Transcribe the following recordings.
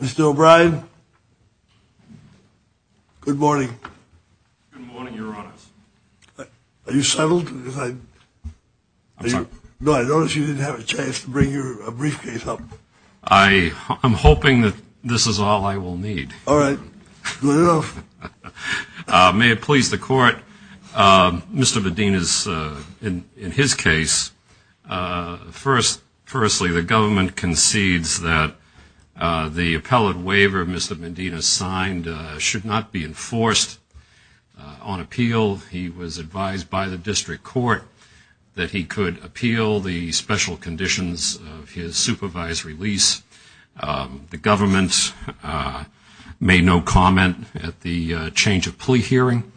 Mr. O'Brien, good morning. Good morning, Your Honor. Are you settled? I'm sorry? No, I noticed you didn't have a chance to bring your briefcase up. I'm hoping that this is all I will need. All right, good enough. May it please the Court, Mr. Medina's, in his case, firstly, the government concedes that the appellate waiver Mr. Medina signed should not be enforced on appeal. He was advised by the district court that he could appeal the special conditions of his supervised release. The government made no comment at the change of plea hearing.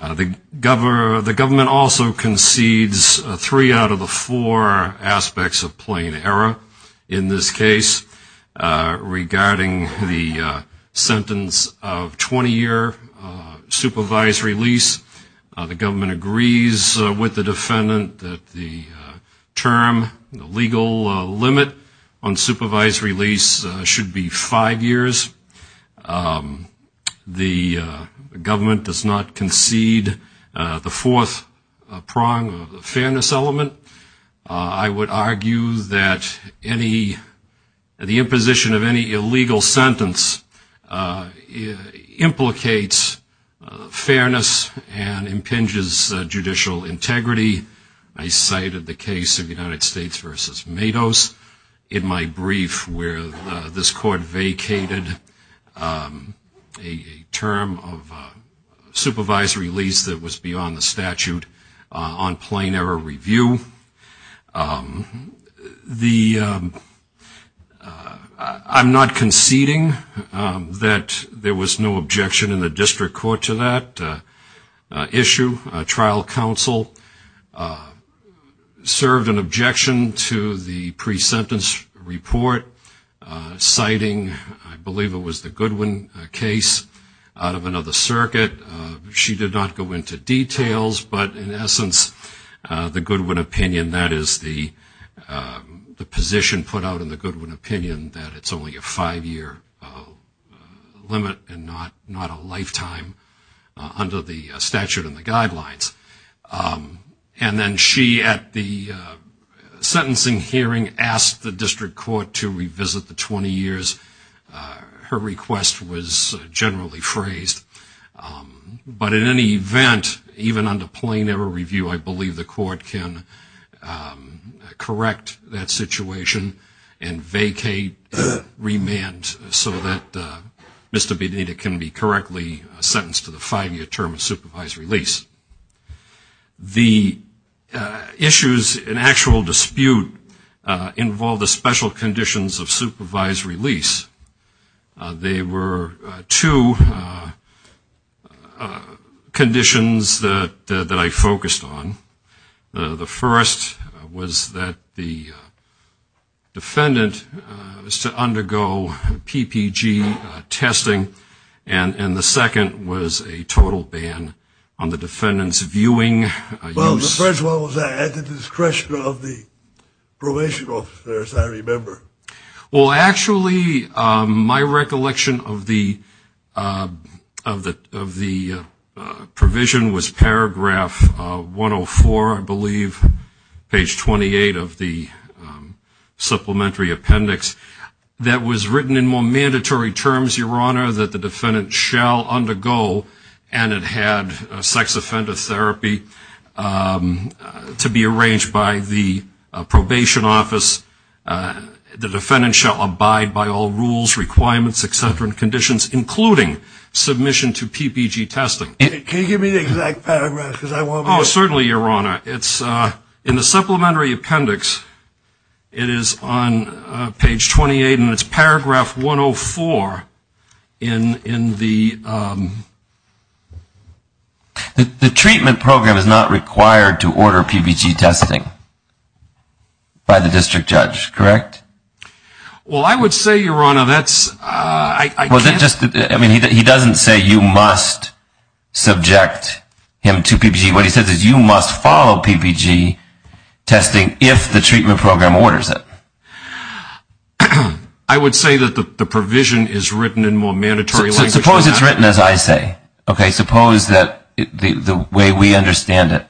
The government also concedes three out of the four aspects of plain error in this case regarding the sentence of 20-year supervised release. The government agrees with the defendant that the term, the legal limit on supervised release should be five years. The government does not concede the fourth prong of the fairness element. I would argue that the imposition of any illegal sentence implicates fairness and impinges judicial integrity. I cited the case of United States v. Matos in my brief where this court vacated a term of supervised release that was beyond the statute on plain error review. I'm not conceding that there was no objection in the district court to that issue. Trial counsel served an objection to the pre-sentence report citing, I believe it was the Goodwin case, out of another circuit. She did not go into details, but in essence, the Goodwin opinion, that is the position put out in the Goodwin opinion that it's only a five-year limit and not a lifetime under the statute and the guidelines. And then she, at the sentencing hearing, asked the district court to revisit the 20 years. Her request was generally phrased. But in any event, even under plain error review, I believe the court can correct that situation and vacate remand so that Mr. Benita can be correctly sentenced to the five-year term of supervised release. The issues in actual dispute involved the special conditions of supervised release. They were two conditions that I focused on. The first was that the defendant was to undergo PPG testing. And the second was a total ban on the defendant's viewing. Well, the first one was at the discretion of the probation officers, I remember. Well, actually, my recollection of the provision was paragraph 104, I believe, page 28 of the supplementary appendix, that was written in more mandatory terms, Your Honor, that the defendant shall undergo, and it had sex offender therapy to be arranged by the probation office. The defendant shall abide by all rules, requirements, et cetera, and conditions, including submission to PPG testing. Can you give me the exact paragraph? Oh, certainly, Your Honor. In the supplementary appendix, it is on page 28, and it's paragraph 104 in the... The treatment program is not required to order PPG testing by the district judge, correct? Well, I would say, Your Honor, that's... I mean, he doesn't say you must subject him to PPG. What he says is you must follow PPG testing if the treatment program orders it. I would say that the provision is written in more mandatory language. Suppose it's written as I say, okay? Suppose that the way we understand it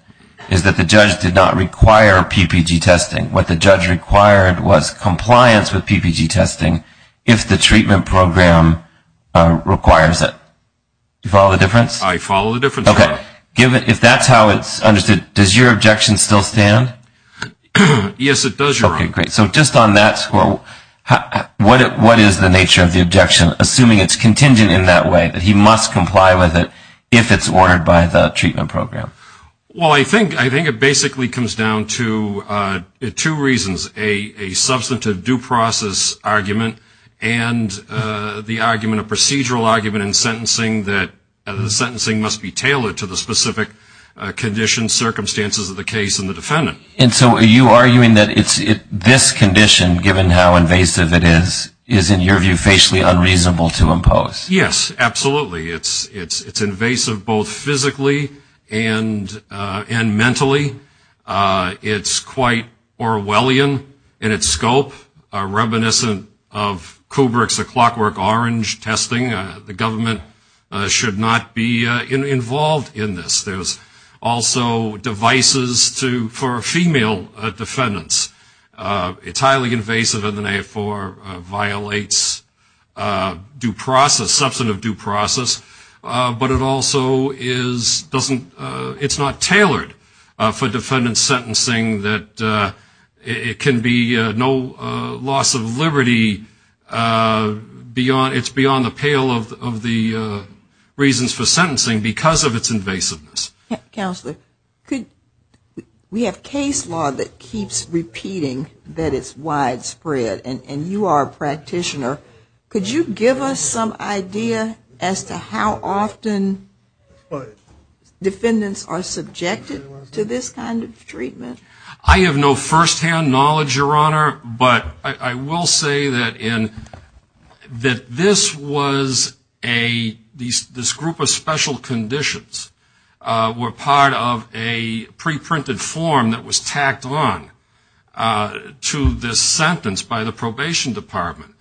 is that the judge did not require PPG testing. What the judge required was compliance with PPG testing if the treatment program requires it. Do you follow the difference? I follow the difference, Your Honor. Okay. If that's how it's understood, does your objection still stand? Yes, it does, Your Honor. Okay, great. So just on that, what is the nature of the objection, assuming it's contingent in that way, that he must comply with it if it's ordered by the treatment program? Well, I think it basically comes down to two reasons, a substantive due process argument and the argument, a procedural argument in sentencing that the sentencing must be tailored to the specific conditions, circumstances of the case and the defendant. And so are you arguing that this condition, given how invasive it is, is in your view facially unreasonable to impose? Yes, absolutely. It's invasive both physically and mentally. It's quite Orwellian in its scope, reminiscent of Kubrick's Clockwork Orange testing. The government should not be involved in this. There's also devices for female defendants. It's highly invasive and, therefore, violates due process, substantive due process. But it also is not tailored for defendant sentencing that it can be no loss of liberty. It's beyond the pale of the reasons for sentencing because of its invasiveness. Counselor, we have case law that keeps repeating that it's widespread, and you are a practitioner. Could you give us some idea as to how often defendants are subjected to this kind of treatment? I have no firsthand knowledge, Your Honor, but I will say that this was a group of special conditions were part of a pre-printed form that was tacked on to this sentence by the Probation Department.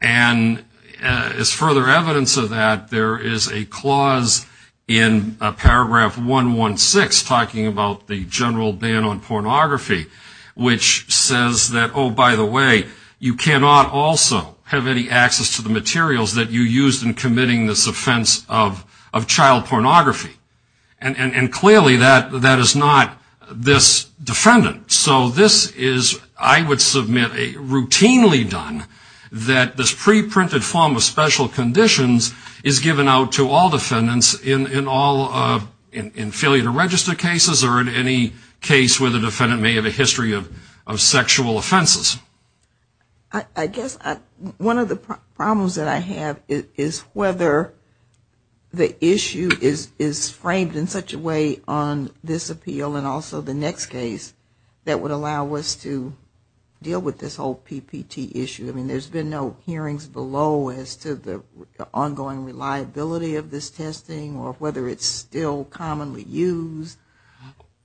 And as further evidence of that, there is a clause in paragraph 116 talking about the general ban on pornography, which says that, oh, by the way, you cannot also have any access to the materials that you used in committing this offense of child pornography. And clearly that is not this defendant. So this is, I would submit, routinely done, that this pre-printed form of special conditions is given out to all defendants in failure to register cases or in any case where the defendant may have a history of sexual offenses. I guess one of the problems that I have is whether the issue is framed in such a way on this appeal and also the next case that would allow us to deal with this whole PPT issue. I mean, there's been no hearings below as to the ongoing reliability of this testing or whether it's still commonly used.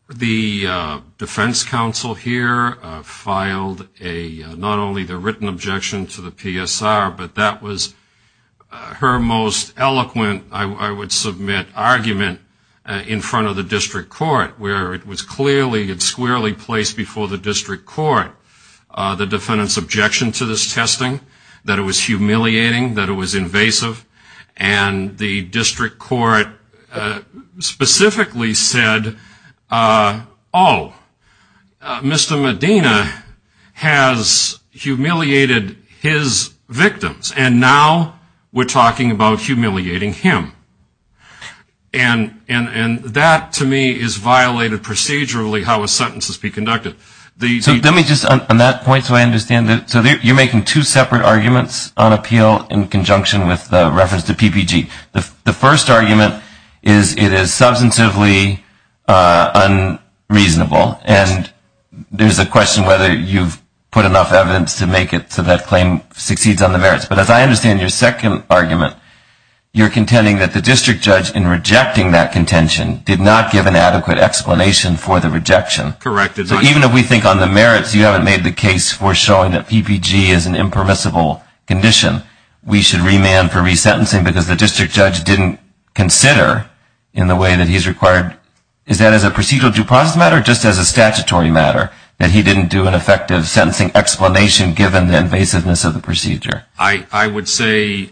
The defense counsel here filed not only the written objection to the PSR, but that was her most eloquent, I would submit, argument in front of the district court, where it was clearly and squarely placed before the district court the defendant's objection to this testing, that it was humiliating, that it was invasive. And the district court specifically said, oh, Mr. Medina has humiliated his victim. And now we're talking about humiliating him. And that, to me, is violated procedurally how a sentence is being conducted. So let me just, on that point, so I understand, so you're making two separate arguments on appeal in conjunction with the reference to PPT. The first argument is it is substantively unreasonable. And there's a question whether you've put enough evidence to make it so that claim succeeds on the merits. But as I understand your second argument, you're contending that the district judge, in rejecting that contention, did not give an adequate explanation for the rejection. Correct. So even if we think on the merits, you haven't made the case for showing that PPG is an impermissible condition. We should remand for resentencing because the district judge didn't consider in the way that he's required. Is that as a procedural due process matter or just as a statutory matter, that he didn't do an effective sentencing explanation given the invasiveness of the procedure? I would say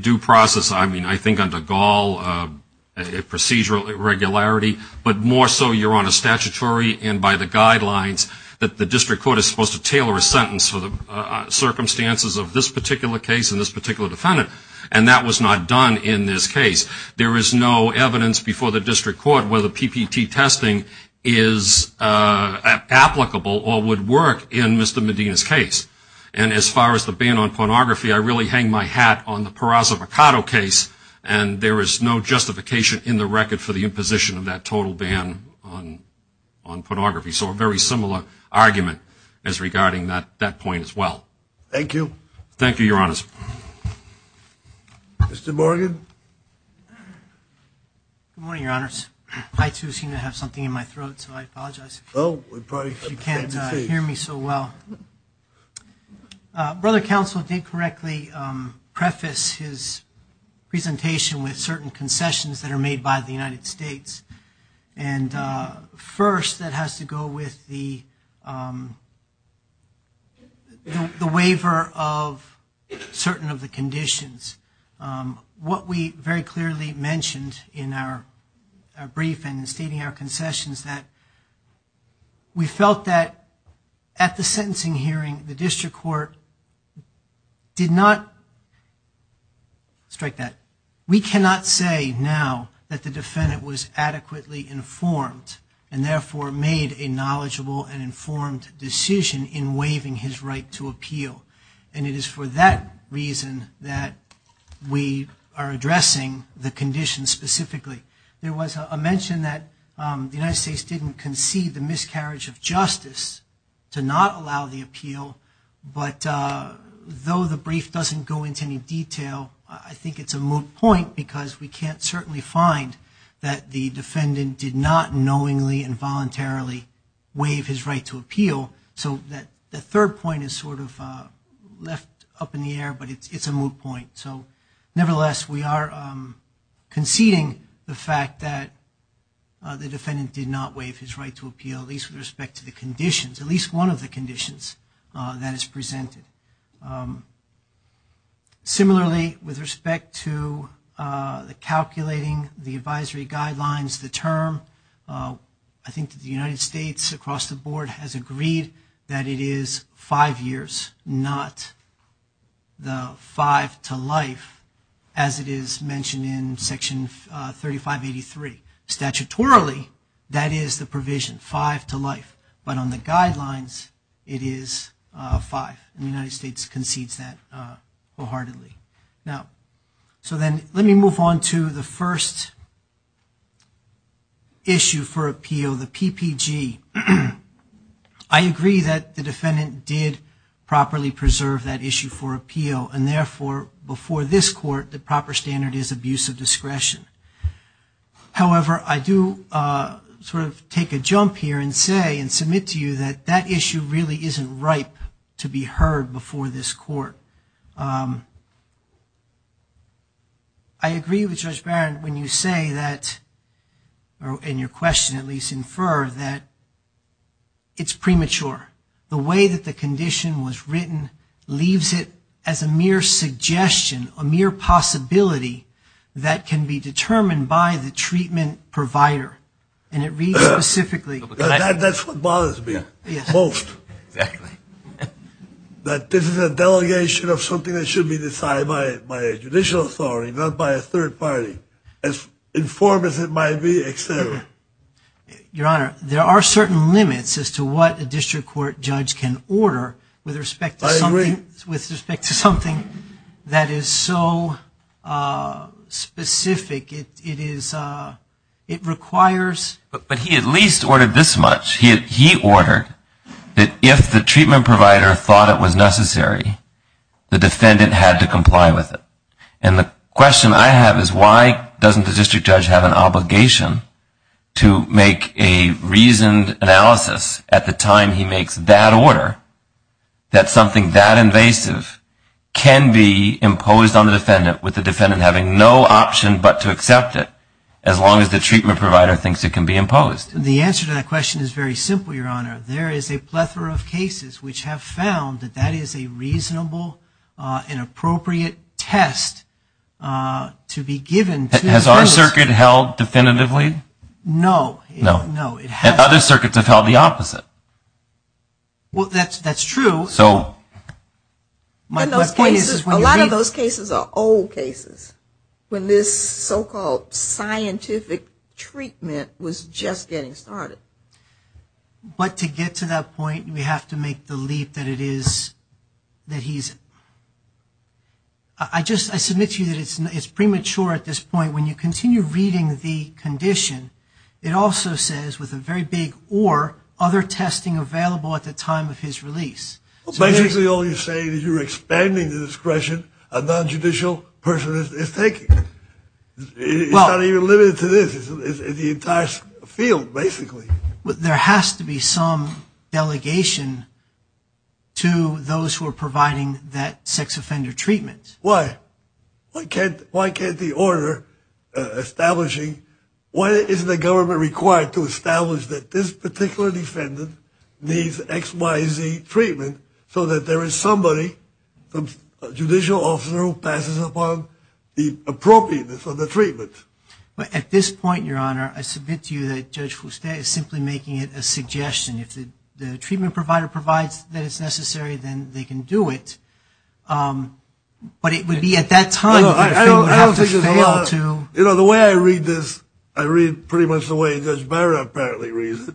due process, I mean, I think under Gall, procedural irregularity, but more so you're on a statutory and by the guidelines that the district court is supposed to tailor a sentence for the circumstances of this particular case and this particular defendant. And that was not done in this case. There is no evidence before the district court where the PPT testing is applicable or would work in Mr. Medina's case. And as far as the ban on pornography, I really hang my hat on the Peraza Mercado case, and there is no justification in the record for the imposition of that total ban on pornography. So a very similar argument as regarding that point as well. Thank you. Thank you, Your Honors. Mr. Morgan. Good morning, Your Honors. I, too, seem to have something in my throat, so I apologize if you can't hear me so well. Brother Counsel did correctly preface his presentation with certain concessions that are made by the United States. And first, that has to go with the waiver of certain of the conditions. What we very clearly mentioned in our brief and in stating our concessions that we felt that at the sentencing hearing, the district court did not strike that. And therefore made a knowledgeable and informed decision in waiving his right to appeal. And it is for that reason that we are addressing the conditions specifically. There was a mention that the United States didn't concede the miscarriage of justice to not allow the appeal, but though the brief doesn't go into any detail, I think it's a moot point because we can't certainly find that the defense defendant did not knowingly and voluntarily waive his right to appeal. So the third point is sort of left up in the air, but it's a moot point. Nevertheless, we are conceding the fact that the defendant did not waive his right to appeal, at least with respect to the conditions, at least one of the conditions that is presented. Similarly, with respect to the calculating the advisory guidelines, the term, I think the United States across the board has agreed that it is five years, not the five to life as it is mentioned in section 3583. Statutorily, that is the provision, five to life, but on the guidelines, it is five. The United States concedes that wholeheartedly. Let me move on to the first issue for appeal, the PPG. I agree that the defendant did properly preserve that issue for appeal, and therefore, before this court, the proper standard is abuse of discretion. However, I do sort of take a jump here and say and submit to you that that issue really isn't ripe to be heard. Before this court. I agree with Judge Barron when you say that, or in your question at least, infer that it's premature. The way that the condition was written leaves it as a mere suggestion, a mere possibility, that can be determined by the treatment provider. That's what bothers me most. That this is a delegation of something that should be decided by a judicial authority, not by a third party. As informed as it might be, et cetera. Your Honor, there are certain limits as to what a district court judge can order with respect to something that is so specific. It requires But he at least ordered this much. He ordered that if the treatment provider thought it was necessary, the defendant had to comply with it. And the question I have is, why doesn't the district judge have an obligation to make a reasoned analysis at the time he makes that order, that something that invasive can be imposed on the defendant with the defendant having no option but to accept it? As long as the treatment provider thinks it can be imposed. The answer to that question is very simple, Your Honor. There is a plethora of cases which have found that that is a reasonable and appropriate test to be given. Has our circuit held definitively? No. And other circuits have held the opposite. Well, that's true. A lot of those cases are old cases when this so-called scientific treatment was just getting started. But to get to that point, we have to make the leap that it is, that he's, I just, I submit to you that it's premature at this point. When you continue reading the condition, it also says with a very big or other testing available at the time of his release. Basically, all you're saying is you're expanding the discretion a nonjudicial person is taking. It's not even limited to this. It's the entire field, basically. There has to be some delegation to those who are providing that sex offender treatment. Why? Why can't the order establishing, why is the government required to establish that this particular defendant needs XYZ treatment so that there is somebody, a judicial officer, who passes upon the appropriateness of the treatment? At this point, Your Honor, I submit to you that Judge Fuste is simply making it a suggestion. If the treatment provider provides that it's necessary, then they can do it. But it would be at that time that the treatment would have to fail to... You know, the way I read this, I read pretty much the way Judge Barrett apparently reads it.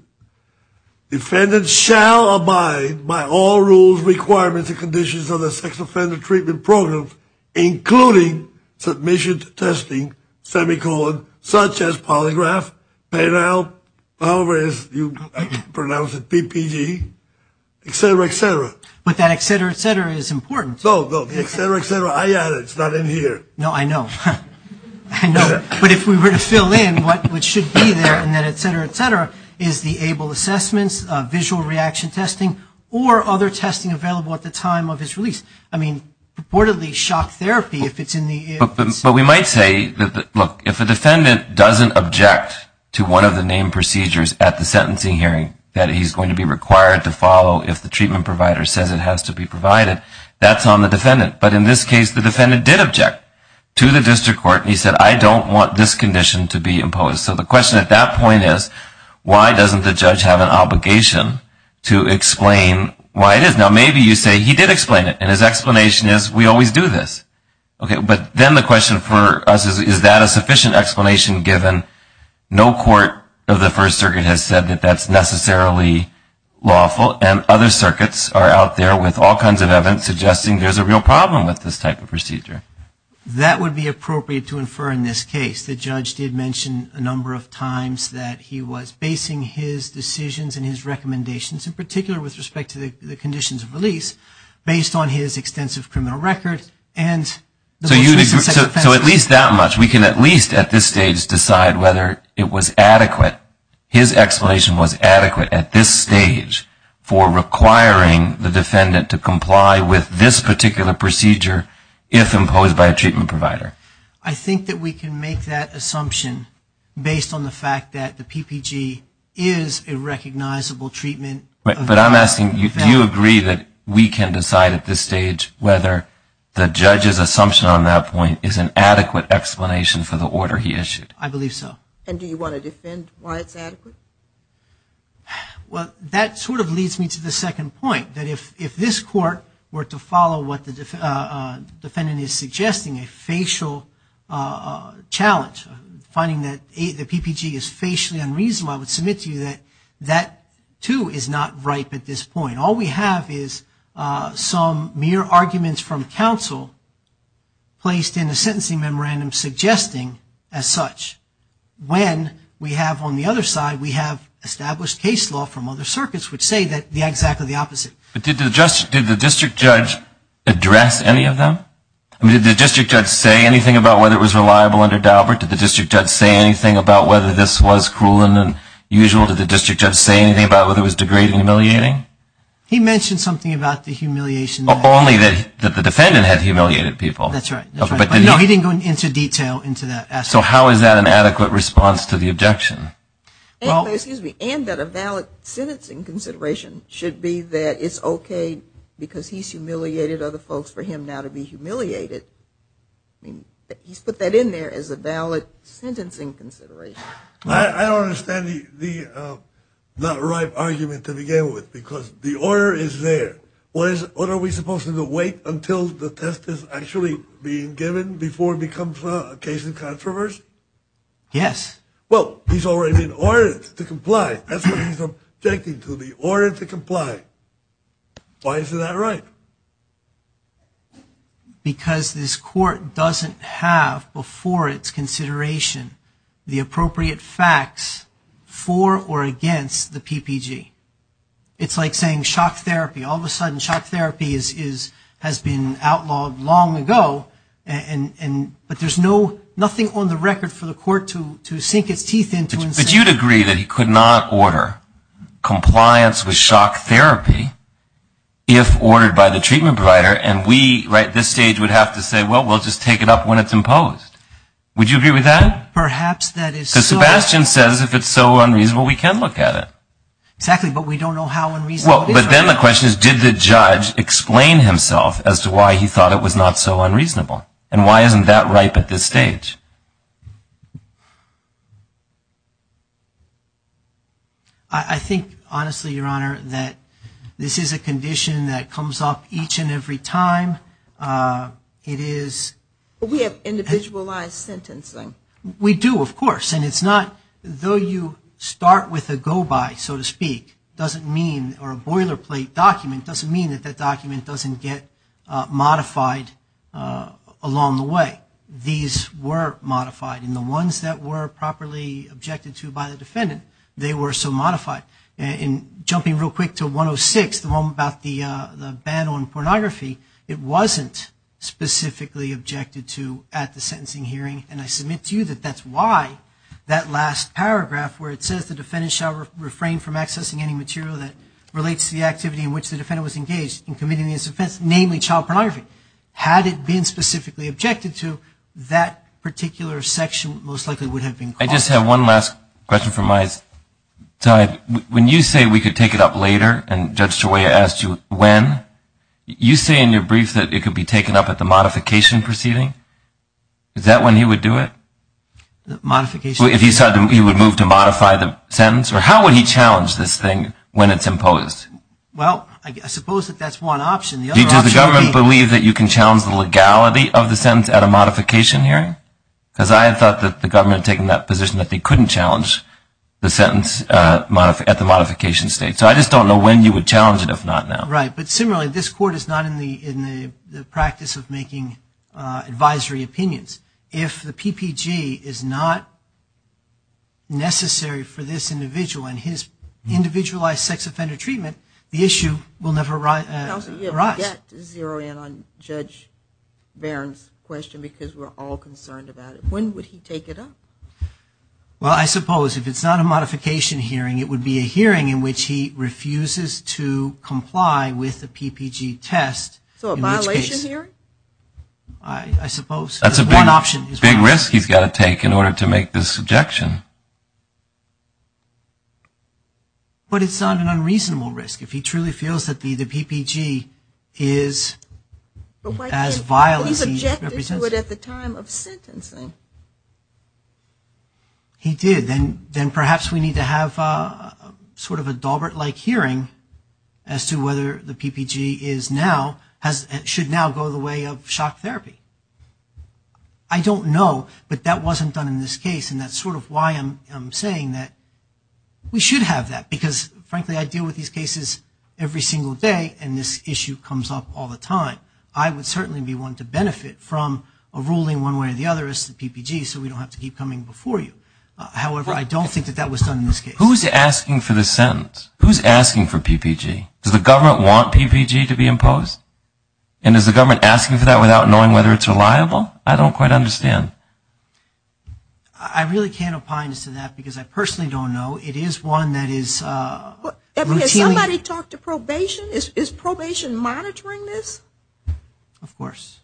Defendants shall abide by all rules, requirements, and conditions of the sex offender treatment program, including submission to testing, semicolon, such as polygraph, penile, however you pronounce it. PPG, et cetera, et cetera. But that et cetera, et cetera is important. No, no, et cetera, et cetera, I add it. It's not in here. No, I know. But if we were to fill in what should be there, et cetera, et cetera, is the able assessments, visual reaction testing, or other testing available at the time of his release. I mean, purportedly shock therapy if it's in the... But we might say, look, if a defendant doesn't object to one of the named procedures at the sentencing hearing that he's going to be required to follow if the treatment provider says it has to be provided, that's on the defendant. But in this case, the defendant did object to the district court, and he said, I don't want this condition to be imposed. So the question at that point is, why doesn't the judge have an obligation to explain why it is? Now, maybe you say, he did explain it, and his explanation is, we always do this. But then the question for us is, is that a sufficient explanation given no court of the First Circuit has said that that's necessarily lawful, and other circuits are out there with all kinds of evidence suggesting there's a real problem. Is there a problem with this type of procedure? That would be appropriate to infer in this case. The judge did mention a number of times that he was basing his decisions and his recommendations, in particular with respect to the conditions of release, based on his extensive criminal record and the most recent sex offense. So at least that much. We can at least at this stage decide whether it was adequate. His explanation was adequate at this stage for requiring the defendant to comply with this particular procedure if imposed by a treatment provider. I think that we can make that assumption based on the fact that the PPG is a recognizable treatment. But I'm asking, do you agree that we can decide at this stage whether the judge's assumption on that point is an adequate explanation for the order he issued? I believe so. And do you want to defend why it's adequate? Well, that sort of leads me to the second point, that if this court were to follow what the defendant is suggesting, a facial challenge, finding that the PPG is facially unreasonable, I would submit to you that that, too, is not ripe at this point. All we have is some mere arguments from counsel placed in a sentencing memorandum suggesting as such. When we have on the other side, we have established case law from other circuits which say exactly the opposite. But did the district judge address any of them? Did the district judge say anything about whether it was reliable under Daubert? Did the district judge say anything about whether this was cruel and unusual? Did the district judge say anything about whether it was degrading and humiliating? He mentioned something about the humiliation. Only that the defendant had humiliated people. That's right. No, he didn't go into detail into that aspect. So how is that an adequate response to the objection? And that a valid sentencing consideration should be that it's okay because he's humiliated other folks for him now to be humiliated. He's put that in there as a valid sentencing consideration. I don't understand the not ripe argument to begin with. Because the order is there. What are we supposed to do, wait until the test is actually being given before it becomes a case of controversy? Yes. Well, he's already been ordered to comply. That's what he's objecting to, the order to comply. Why is that right? Because this court doesn't have before its consideration the appropriate facts for or against the PPG. It's like saying shock therapy. All of a sudden shock therapy has been outlawed long ago. But there's nothing on the record for the court to sink its teeth into. But you'd agree that he could not order compliance with shock therapy if ordered by the PPG. And we at this stage would have to say, well, we'll just take it up when it's imposed. Would you agree with that? Because Sebastian says if it's so unreasonable, we can look at it. Exactly, but we don't know how unreasonable it is right now. But then the question is, did the judge explain himself as to why he thought it was not so unreasonable? And why isn't that ripe at this stage? I think, honestly, Your Honor, that this is a condition that comes up each and every time. We have individualized sentencing. We do, of course. And it's not, though you start with a go-by, so to speak, doesn't mean, or a boilerplate document doesn't mean that that document doesn't get modified along the way. But these were modified, and the ones that were properly objected to by the defendant, they were so modified. And jumping real quick to 106, the one about the ban on pornography, it wasn't specifically objected to at the sentencing hearing. And I submit to you that that's why that last paragraph where it says, the defendant shall refrain from accessing any material that relates to the activity in which the defendant was engaged in committing this offense, namely child pornography. Had it been specifically objected to, that particular section most likely would have been closed. I just have one last question from my side. When you say we could take it up later, and Judge Shoya asked you when, you say in your brief that it could be taken up at the modification proceeding. Is that when he would do it? If he said he would move to modify the sentence? Or how would he challenge this thing when it's imposed? Well, I suppose that that's one option. Does the government believe that you can challenge the legality of the sentence at a modification hearing? Because I had thought that the government had taken that position that they couldn't challenge the sentence at the modification stage. So I just don't know when you would challenge it if not now. Right, but similarly, this court is not in the practice of making advisory opinions. If the PPG is not necessary for this individual, and his individualized sex offender treatment, the issue will never arise. Counsel, you'll get to zero in on Judge Barron's question because we're all concerned about it. When would he take it up? Well, I suppose if it's not a modification hearing, it would be a hearing in which he refuses to comply with the PPG test. So a violation hearing? I suppose that's one option. Big risk he's got to take in order to make this objection. But it's not an unreasonable risk. If he truly feels that the PPG is as vile as he represents it. But why can't he object to it at the time of sentencing? He did. Then perhaps we need to have sort of a Daubert-like hearing as to whether the PPG should now go the way of shock therapy. I don't know, but that wasn't done in this case and that's sort of why I'm saying that we should have that. Because frankly, I deal with these cases every single day and this issue comes up all the time. I would certainly be one to benefit from a ruling one way or the other as to the PPG so we don't have to keep coming before you. However, I don't think that that was done in this case. Who's asking for this sentence? Who's asking for PPG? Does the government want PPG to be imposed? And is the government asking for that without knowing whether it's reliable? I don't quite understand. I really can't opine as to that because I personally don't know. It is one that is Has somebody talked to probation? Is probation monitoring this? Of course.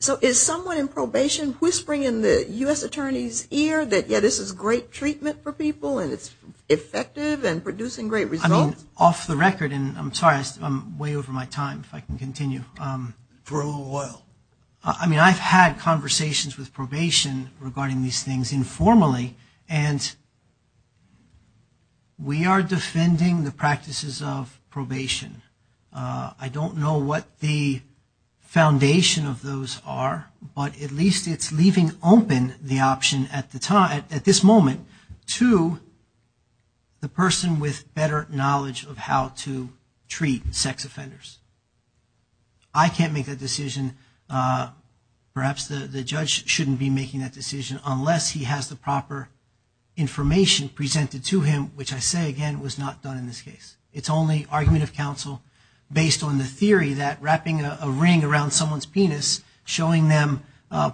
So is someone in probation whispering in the U.S. Attorney's ear that this is great treatment for people and it's effective and producing great results? I mean off the record and I'm sorry I'm way over my time if I can continue. For a little while. I mean I've had conversations with probation regarding these things informally and we are defending the practices of probation. I don't know what the foundation of those are but at least it's leaving open the option at this moment to the person with better knowledge of how to treat sex offenders. I can't make that decision perhaps the judge shouldn't be making that decision unless he has the proper information presented to him which I say again was not done in this case. It's only argument of counsel based on the theory that wrapping a ring around someone's penis showing them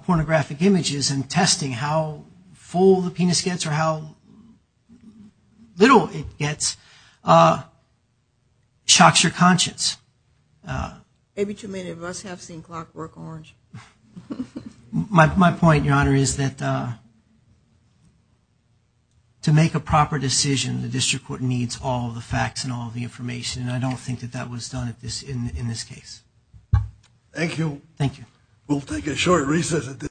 pornographic images and testing how full the penis gets or how little it gets shocks your conscience. Maybe too many of us have seen Clark work orange. My point your honor is that to make a proper decision the district court needs all the facts and all the information and I don't think that was done in this case. Thank you. Thank you.